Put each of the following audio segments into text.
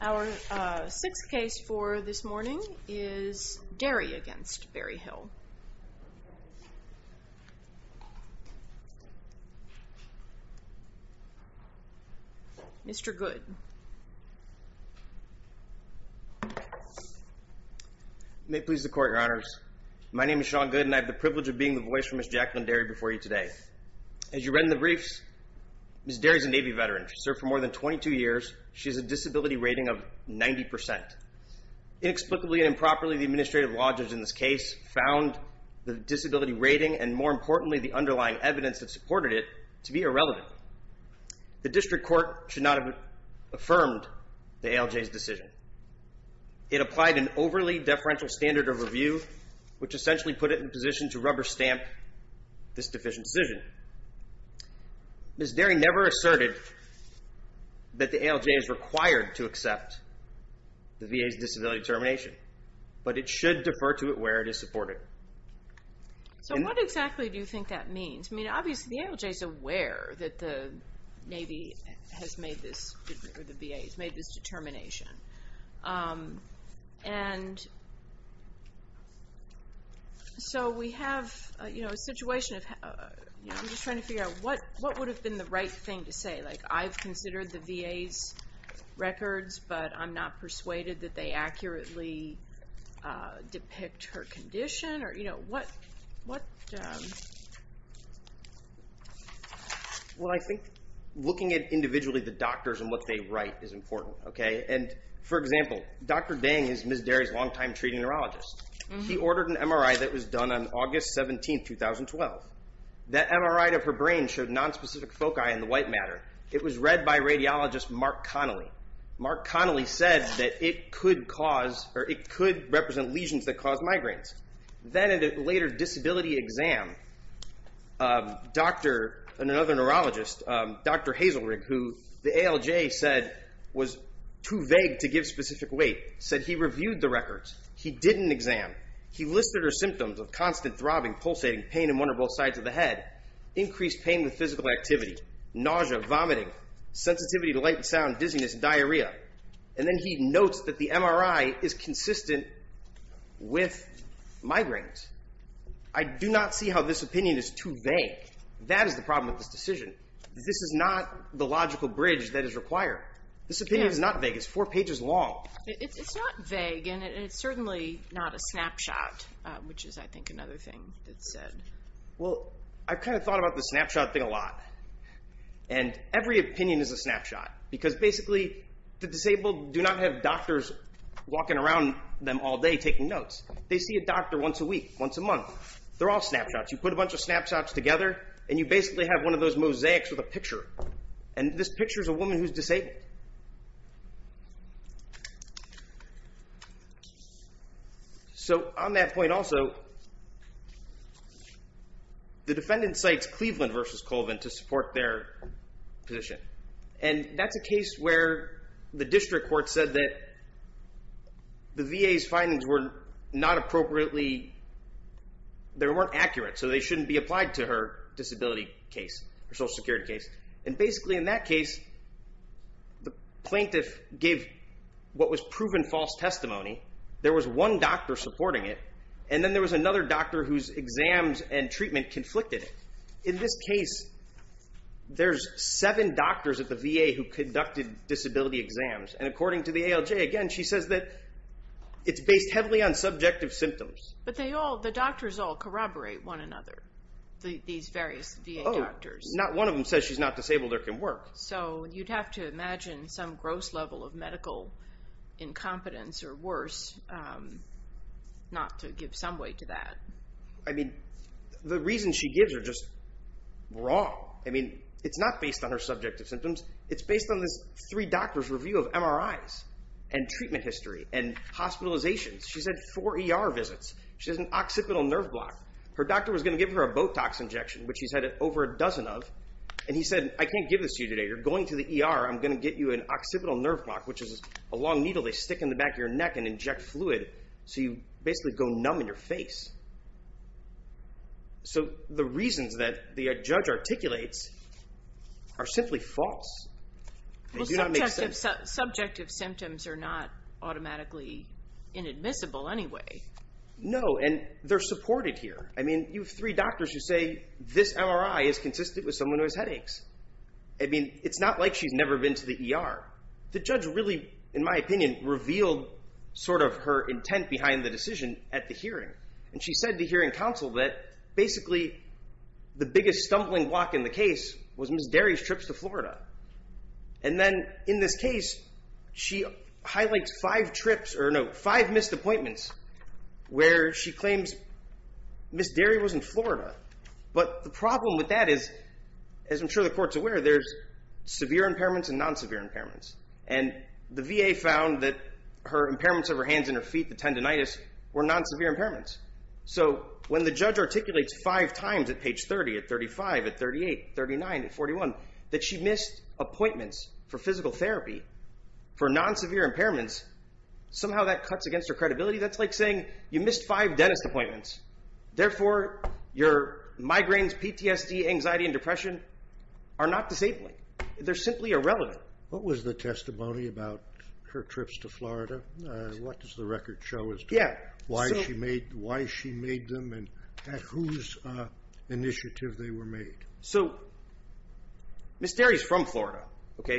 Our sixth case for this morning is Derry v. Berryhill. Mr. Goode. Mr. Goode May it please the Court, Your Honors. My name is Sean Goode, and I have the privilege of being the voice for Ms. Jacqueline Derry before you today. As you read in the briefs, Ms. Derry is a Navy veteran. She served for more than 22 years. She has a disability rating of 90%. Inexplicably and improperly, the administrative lodgers in this case found the disability rating and, more importantly, the underlying evidence that supported it to be irrelevant. The district court should not have affirmed the ALJ's decision. It applied an overly deferential standard of review, which essentially put it in position to rubber stamp this deficient decision. Ms. Derry never asserted that the ALJ is required to accept the VA's disability determination, but it should defer to it where it is supported. So what exactly do you think that means? I mean, obviously the ALJ is aware that the Navy has made this, or the VA, has made this determination, and so we have, you know, a situation of, you know, I'm just trying to figure out what would have been the right thing to say? Like I've considered the VA's records, but I'm not persuaded that they accurately depict her condition, or, you know, what, what, um... Well, I think looking at individually the doctors and what they write is important, okay? And, for example, Dr. Dang is Ms. Derry's long-time treating neurologist. She ordered an MRI that was done on August 17, 2012. That MRI of her brain showed nonspecific foci in the white matter. It was read by radiologist Mark Connelly. Mark Connelly said that it could cause, or it could represent lesions that cause migraines. Then in a later disability exam, Dr., another neurologist, Dr. Hazelrig, who the ALJ said was too vague to give specific weight, said he reviewed the records. He didn't exam. He listed her symptoms of constant throbbing, pulsating pain in one or both sides of the head, increased pain with physical activity, nausea, vomiting, sensitivity to light and background dizziness, diarrhea, and then he notes that the MRI is consistent with migraines. I do not see how this opinion is too vague. That is the problem with this decision. This is not the logical bridge that is required. This opinion is not vague. It's four pages long. It's not vague, and it's certainly not a snapshot, which is, I think, another thing that's said. Well, I've kind of thought about the snapshot thing a lot, and every opinion is a snapshot because basically the disabled do not have doctors walking around them all day taking notes. They see a doctor once a week, once a month. They're all snapshots. You put a bunch of snapshots together, and you basically have one of those mosaics with a picture, and this picture is a woman who's disabled. So on that point also, the defendant cites Cleveland versus Colvin to support their position, and that's a case where the district court said that the VA's findings were not appropriately... They weren't accurate, so they shouldn't be applied to her disability case, her Social Security case, and basically in that case, the plaintiff gave what was proven false testimony. There was one doctor supporting it, and then there was another doctor whose exams and treatment conflicted it. In this case, there's seven doctors at the VA who conducted disability exams, and according to the ALJ, again, she says that it's based heavily on subjective symptoms. But the doctors all corroborate one another, these various VA doctors. Not one of them says she's not disabled or can work. So you'd have to imagine some gross level of medical incompetence or worse not to give some weight to that. I mean, the reasons she gives are just wrong. It's not based on her subjective symptoms. It's based on this three doctors' review of MRIs and treatment history and hospitalizations. She's had four ER visits. She has an occipital nerve block. Her doctor was going to give her a Botox injection, which she's had over a dozen of, and he said, I can't give this to you today. You're going to the ER. I'm going to get you an occipital nerve block, which is a long needle they stick in the back of your neck and inject fluid, so you basically go numb in your face. So the reasons that the judge articulates are simply false. They do not make sense. Well, subjective symptoms are not automatically inadmissible anyway. No, and they're supported here. I mean, you have three doctors who say this MRI is consistent with someone who has headaches. I mean, it's not like she's never been to the ER. The judge really, in my opinion, revealed sort of her intent behind the decision at the hearing. And she said to hearing counsel that basically the biggest stumbling block in the case was Ms. Derry's trips to Florida. And then in this case, she highlights five trips, or no, five missed appointments where she claims Ms. Derry was in Florida. But the problem with that is, as I'm sure the court's aware, there's severe impairments and non-severe impairments. And the VA found that her impairments of her hands and her feet, the tendinitis, were non-severe impairments. So when the judge articulates five times at page 30, at 35, at 38, 39, at 41, that she missed appointments for physical therapy for non-severe impairments, somehow that cuts against her credibility. That's like saying you missed five dentist appointments. Therefore, your migraines, PTSD, anxiety, and depression are not disabling. They're simply irrelevant. What was the testimony about her trips to Florida? What does the record show as to why she made them and at whose initiative they were made? So Ms. Derry's from Florida.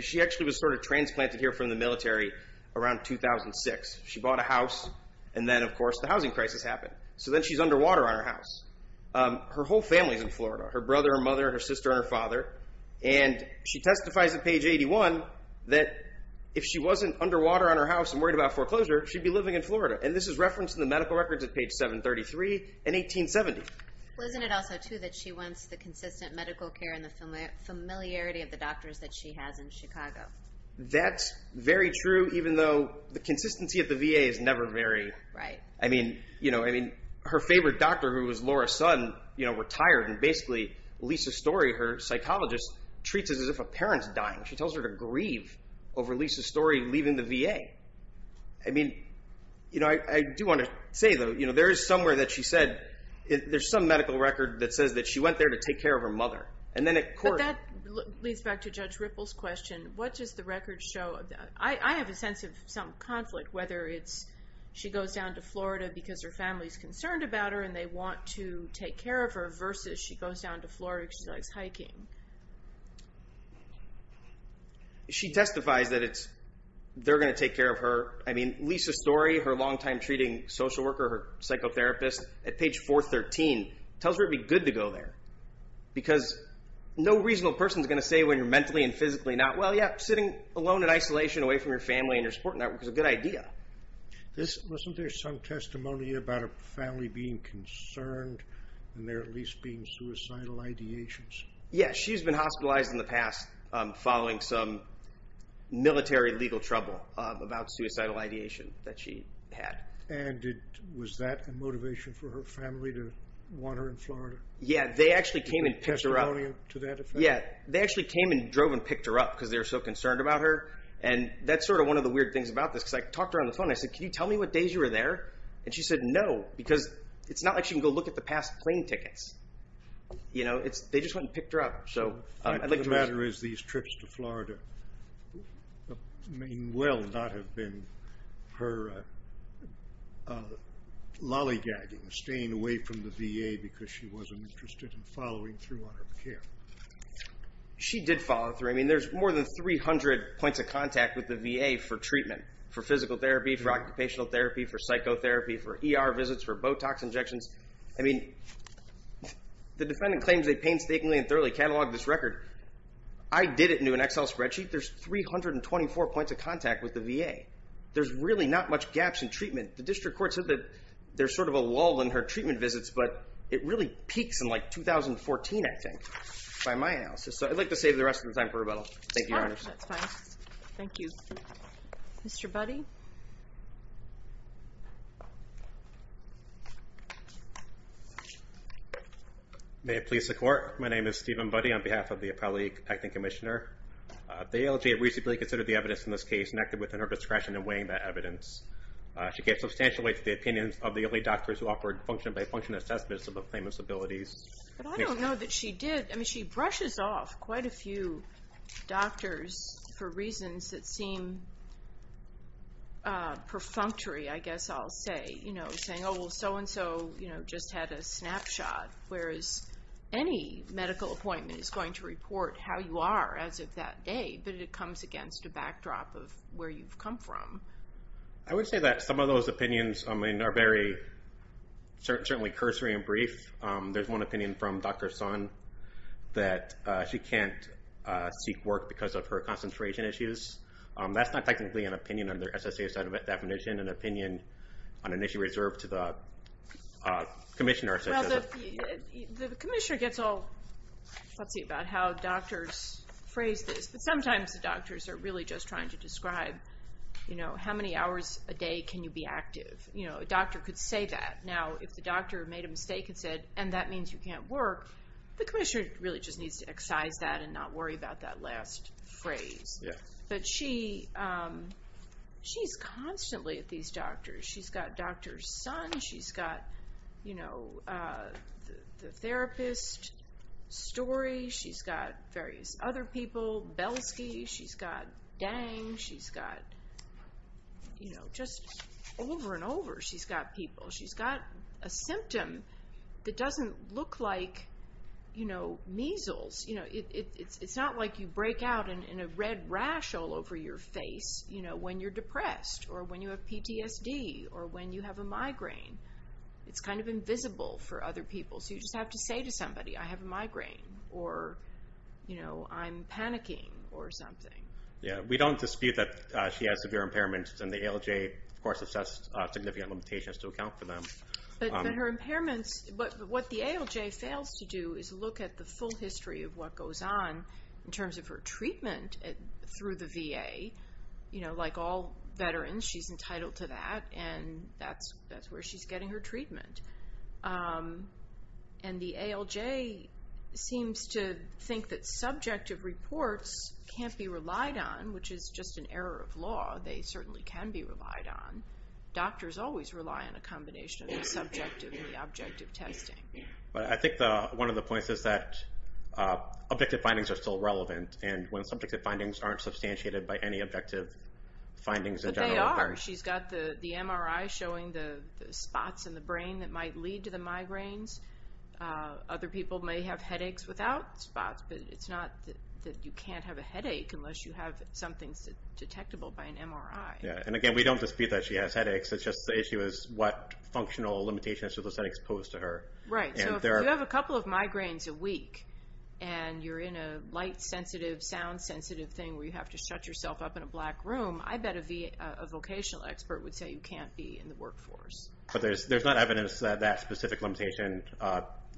She actually was sort of transplanted here from the military around 2006. She bought a house. And then, of course, the housing crisis happened. So then she's underwater on her house. Her whole family's in Florida, her brother, her mother, her sister, and her father. And she testifies at page 81 that if she wasn't underwater on her house and worried about foreclosure, she'd be living in Florida. And this is referenced in the medical records at page 733 and 1870. Wasn't it also, too, that she wants the consistent medical care and the familiarity of the doctors that she has in Chicago? That's very true, even though the consistency of the VA is never very... Right. I mean, you know, I mean, her favorite doctor, who was Laura's son, you know, retired. And basically, Lisa Story, her psychologist, treats it as if a parent's dying. She tells her to grieve over Lisa Story leaving the VA. I mean, you know, I do want to say, though, you know, there is somewhere that she said there's some medical record that says that she went there to take care of her mother. And then at court... But that leads back to Judge Ripple's question. What does the record show? I have a sense of some conflict, whether it's she goes down to Florida because her family's She goes down to Florida because she likes hiking. She testifies that it's... They're going to take care of her. I mean, Lisa Story, her longtime treating social worker, her psychotherapist, at page 413, tells her it'd be good to go there. Because no reasonable person's going to say when you're mentally and physically not well, yeah, sitting alone in isolation away from your family and your support network is a good idea. This... Does she have any idea about her family being concerned and there at least being suicidal ideations? Yeah. She's been hospitalized in the past following some military legal trouble about suicidal ideation that she had. And was that a motivation for her family to want her in Florida? Yeah. They actually came and picked her up. Testimonial to that effect? Yeah. They actually came and drove and picked her up because they were so concerned about her. And that's sort of one of the weird things about this, because I talked to her on the phone. I said, can you tell me what days you were there? And she said, no. Because it's not like she can go look at the past plane tickets. You know? They just went and picked her up. So... The matter is, these trips to Florida may well not have been her lollygagging, staying away from the VA because she wasn't interested in following through on her care. She did follow through. I mean, there's more than 300 points of contact with the VA for treatment. For physical therapy, for occupational therapy, for psychotherapy, for ER visits, for Botox injections. I mean, the defendant claims they painstakingly and thoroughly cataloged this record. I did it into an Excel spreadsheet. There's 324 points of contact with the VA. There's really not much gaps in treatment. The district court said that there's sort of a lull in her treatment visits, but it really peaks in like 2014, I think, by my analysis. So I'd like to save the rest of the time for rebuttal. Thank you, Your Honor. That's fine. Thank you. Mr. Budde? May it please the Court. My name is Stephen Budde on behalf of the appellate acting commissioner. The ALJ recently considered the evidence in this case and acted within her discretion in weighing that evidence. She gave substantial weight to the opinions of the early doctors who offered function-by-function assessments of the claimant's abilities. But I don't know that she did. She brushes off quite a few doctors for reasons that seem perfunctory, I guess I'll say, saying, oh, well, so-and-so just had a snapshot, whereas any medical appointment is going to report how you are as of that day, but it comes against a backdrop of where you've come from. I would say that some of those opinions are very, certainly, cursory and brief. There's one opinion from Dr. Sun that she can't seek work because of her concentration issues. That's not technically an opinion under SSA's definition, an opinion on an issue reserved to the commissioner. Well, the commissioner gets all fussy about how doctors phrase this, but sometimes the doctors are really just trying to describe, you know, how many hours a day can you be active? You know, a doctor could say that. Now, if the doctor made a mistake and said, and that means you can't work, the commissioner really just needs to excise that and not worry about that last phrase. But she's constantly at these doctors. She's got Dr. Sun. She's got, you know, the therapist, Story. She's got various other people, Belsky. She's got Dang. She's got, you know, just over and over, she's got people. She's got a symptom that doesn't look like, you know, measles. You know, it's not like you break out in a red rash all over your face, you know, when you're depressed or when you have PTSD or when you have a migraine. It's kind of invisible for other people, so you just have to say to somebody, I have a migraine or, you know, I'm panicking or something. Yeah. We don't dispute that she has severe impairments and the ALJ, of course, assesses significant limitations to account for them. But her impairments, what the ALJ fails to do is look at the full history of what goes on in terms of her treatment through the VA. You know, like all veterans, she's entitled to that, and that's where she's getting her treatment. And the ALJ seems to think that subjective reports can't be relied on, which is just an error of law. They certainly can be relied on. Doctors always rely on a combination of the subjective and the objective testing. But I think one of the points is that objective findings are still relevant, and when subjective findings aren't substantiated by any objective findings in general, they aren't. But they are. She's got the MRI showing the spots in the brain that might lead to the migraines. Other people may have headaches without spots, but it's not that you can't have a headache unless you have something detectable by an MRI. Yeah, and again, we don't dispute that she has headaches, it's just the issue is what functional limitations do those headaches pose to her. Right, so if you have a couple of migraines a week, and you're in a light-sensitive, sound-sensitive thing where you have to shut yourself up in a black room, I bet a vocational expert would say you can't be in the workforce. But there's not evidence that that specific limitation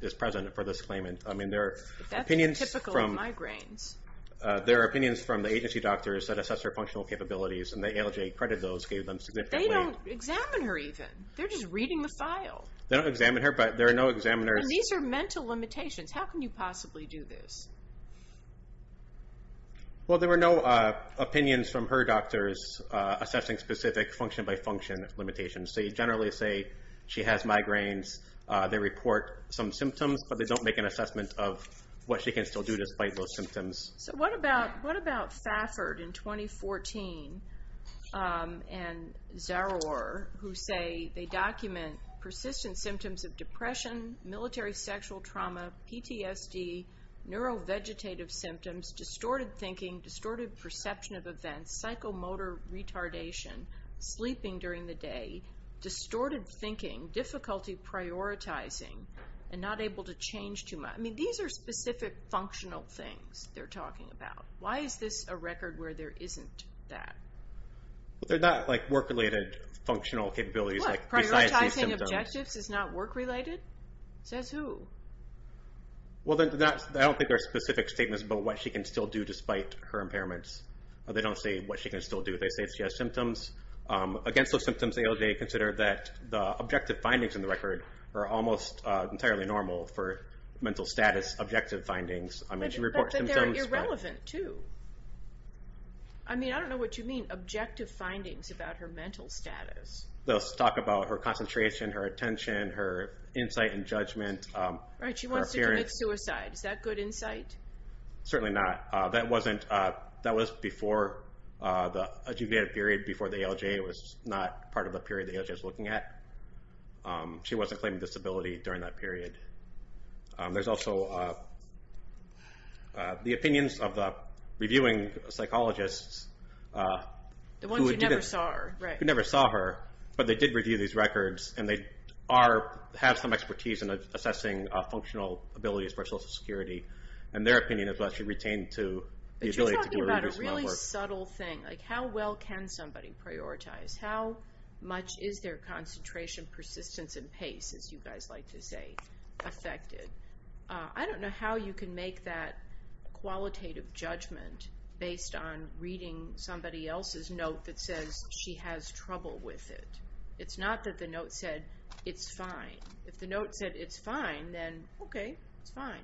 is present for this claimant. I mean, there are opinions from... But that's typical of migraines. There are opinions from the agency doctors that assess her functional capabilities, and ALJ accredited those, gave them significant... They don't examine her, even. They're just reading the file. They don't examine her, but there are no examiners... These are mental limitations. How can you possibly do this? Well, there were no opinions from her doctors assessing specific function-by-function limitations. So you generally say she has migraines, they report some symptoms, but they don't make an assessment of what she can still do despite those symptoms. So what about... What about Thafford in 2014 and Zaror, who say they document persistent symptoms of depression, military sexual trauma, PTSD, neurovegetative symptoms, distorted thinking, distorted perception of events, psychomotor retardation, sleeping during the day, distorted thinking, difficulty prioritizing, and not able to change too much. I mean, these are specific functional things. They're talking about. Why is this a record where there isn't that? Well, they're not like work-related functional capabilities, like besides these symptoms. What? Prioritizing objectives is not work-related? Says who? Well, I don't think there are specific statements about what she can still do despite her impairments. They don't say what she can still do. They say if she has symptoms. Against those symptoms, ALJ considered that the objective findings in the record are almost entirely normal for mental status objective findings. I mean, she reports symptoms. But they're irrelevant, too. I mean, I don't know what you mean, objective findings about her mental status. They'll talk about her concentration, her attention, her insight and judgment. Right. She wants to commit suicide. Is that good insight? Certainly not. That wasn't... That was before the adjuvated period, before the ALJ was not part of the period the ALJ was looking at. She wasn't claiming disability during that period. There's also the opinions of the reviewing psychologists... The ones who never saw her. ...who never saw her. But they did review these records, and they have some expertise in assessing functional abilities for Social Security. And their opinion is that she retained the ability to do a reduced amount of work. But you're talking about a really subtle thing. How well can somebody prioritize? How much is their concentration, persistence and pace, as you guys like to say, affected? I don't know how you can make that qualitative judgment based on reading somebody else's note that says she has trouble with it. It's not that the note said, it's fine. If the note said, it's fine, then okay, it's fine.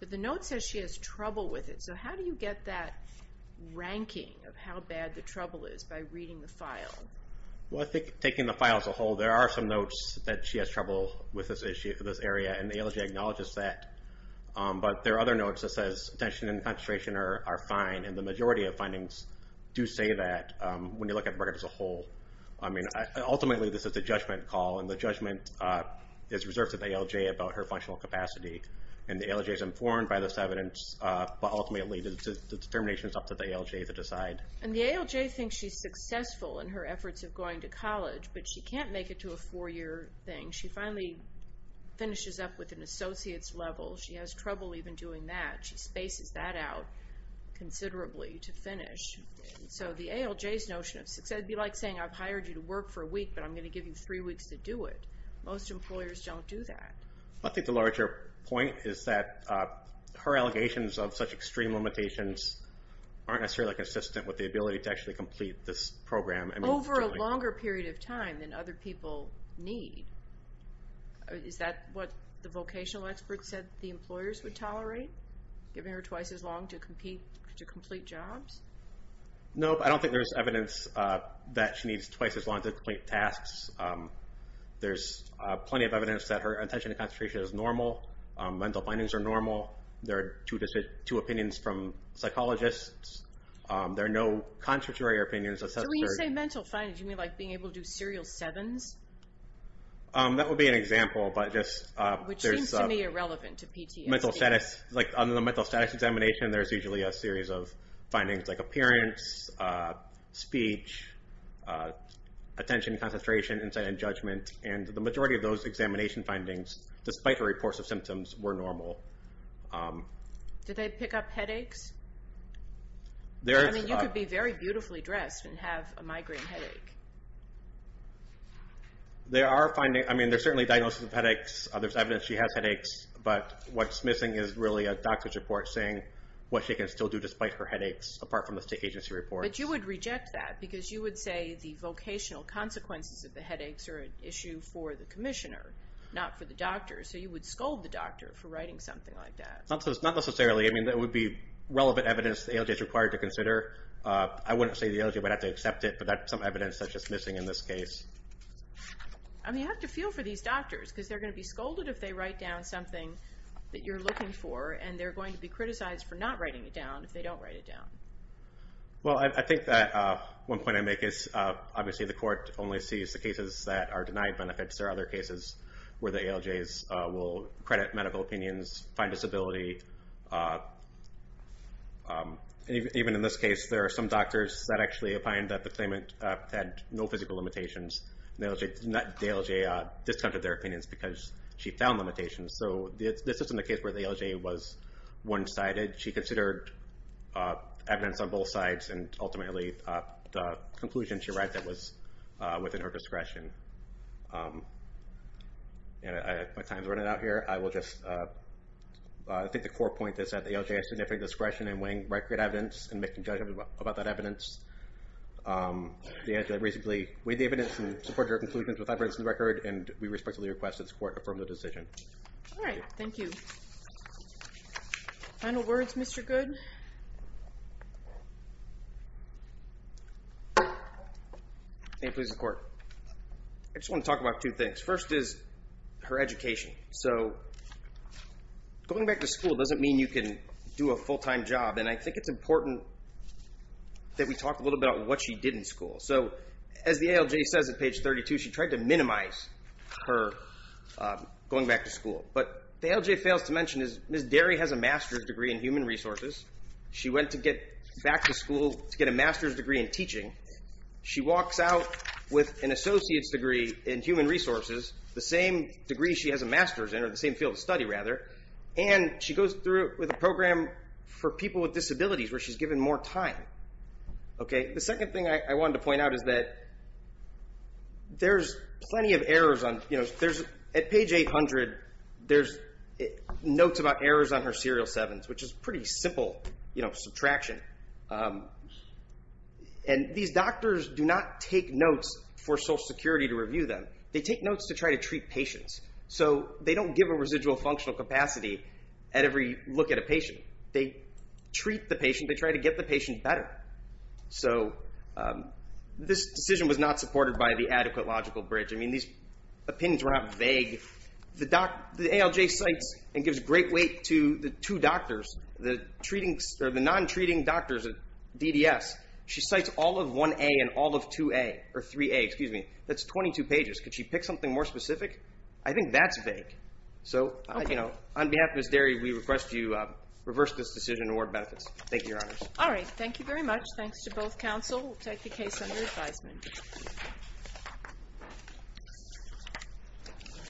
But the note says she has trouble with it. So how do you get that ranking of how bad the trouble is by reading the file? Well, I think taking the file as a whole, there are some notes that she has trouble with this issue, this area, and the ALJ acknowledges that. But there are other notes that says attention and concentration are fine, and the majority of findings do say that when you look at the record as a whole. I mean, ultimately this is a judgment call, and the judgment is reserved to the ALJ about her functional capacity. And the ALJ is informed by this evidence, but ultimately the determination is up to the ALJ to decide. And the ALJ thinks she's successful in her efforts of going to college, but she can't make it to a four-year thing. She finally finishes up with an associate's level. She has trouble even doing that. She spaces that out considerably to finish. So the ALJ's notion of success would be like saying, I've hired you to work for a week, but I'm going to give you three weeks to do it. Most employers don't do that. I think the larger point is that her allegations of such extreme limitations aren't necessarily consistent with the ability to actually complete this program. Over a longer period of time than other people need. Is that what the vocational experts said the employers would tolerate? Giving her twice as long to complete jobs? No, but I don't think there's evidence that she needs twice as long to complete tasks. There's plenty of evidence that her attention and concentration is normal. Mental findings are normal. There are two opinions from psychologists. There are no constitutory opinions. So when you say mental findings, you mean like being able to do serial sevens? That would be an example, but just... Which seems to me irrelevant to PTSD. On the mental status examination, there's usually a series of findings like appearance, speech, attention, concentration, insight, and judgment. And the majority of those examination findings, despite her reports of symptoms, were normal. Did they pick up headaches? I mean, you could be very beautifully dressed and have a migraine headache. There are findings... I mean, there's certainly diagnosis of headaches, there's evidence she has headaches, but what's missing is really a doctor's report saying what she can still do despite her headaches apart from the state agency reports. But you would reject that because you would say the vocational consequences of the headaches are an issue for the commissioner, not for the doctor. So you would scold the doctor for writing something like that. Not necessarily. I mean, that would be relevant evidence the ALJ is required to consider. I wouldn't say the ALJ would have to accept it, but that's some evidence that's just missing in this case. I mean, you have to feel for these doctors because they're going to be scolded if they write down something that you're looking for, and they're going to be criticized for not writing it down if they don't write it down. Well, I think that one point I make is obviously the court only sees the cases that are denied benefits. There are other cases where the ALJs will credit medical opinions, find disability. Even in this case, there are some doctors that actually opined that the claimant had no physical limitations. The ALJ discounted their opinions because she found limitations. So this isn't a case where the ALJ was one-sided. She considered evidence on both sides, and ultimately the conclusion she arrived at was within her discretion. My time's running out here. I will just... I think the core point is that the ALJ has significant discretion in weighing record evidence and making judgments about that evidence. They had to reasonably weigh the evidence and support their conclusions without breaking the record, and we respectfully request that this court affirm the decision. All right. Thank you. Final words, Mr. Goode? Ma'am, please, the court. I just want to talk about two things. First is her education. So going back to school doesn't mean you can do a full-time job, and I think it's important that we talk a little bit about what she did in school. So as the ALJ says at page 32, she tried to minimize her going back to school. But what the ALJ fails to mention is Ms. Derry has a master's degree in human resources. She went to get back to school to get a master's degree in teaching. She walks out with an associate's degree in human resources, the same degree she has a master's in, or the same field of study, rather, and she goes through with a program for people with disabilities where she's given more time. The second thing I wanted to point out is that there's plenty of errors on... At page 800, there's notes about errors on her serial sevens, which is pretty simple subtraction. And these doctors do not take notes for Social Security to review them. They take notes to try to treat patients. So they don't give a residual functional capacity at every look at a patient. They treat the patient. They try to get the patient better. So this decision was not supported by the adequate logical bridge. I mean, these opinions were not vague. The ALJ cites and gives great weight to the two doctors, the non-treating doctors at DDS. She cites all of 1A and all of 2A, or 3A, excuse me. That's 22 pages. Could she pick something more specific? I think that's vague. So on behalf of Ms. Derry, we request you reverse this decision and award benefits. Thank you, Your Honors. All right. Thank you very much. Thanks to both counsel. We'll take the case under advisement. Thanks.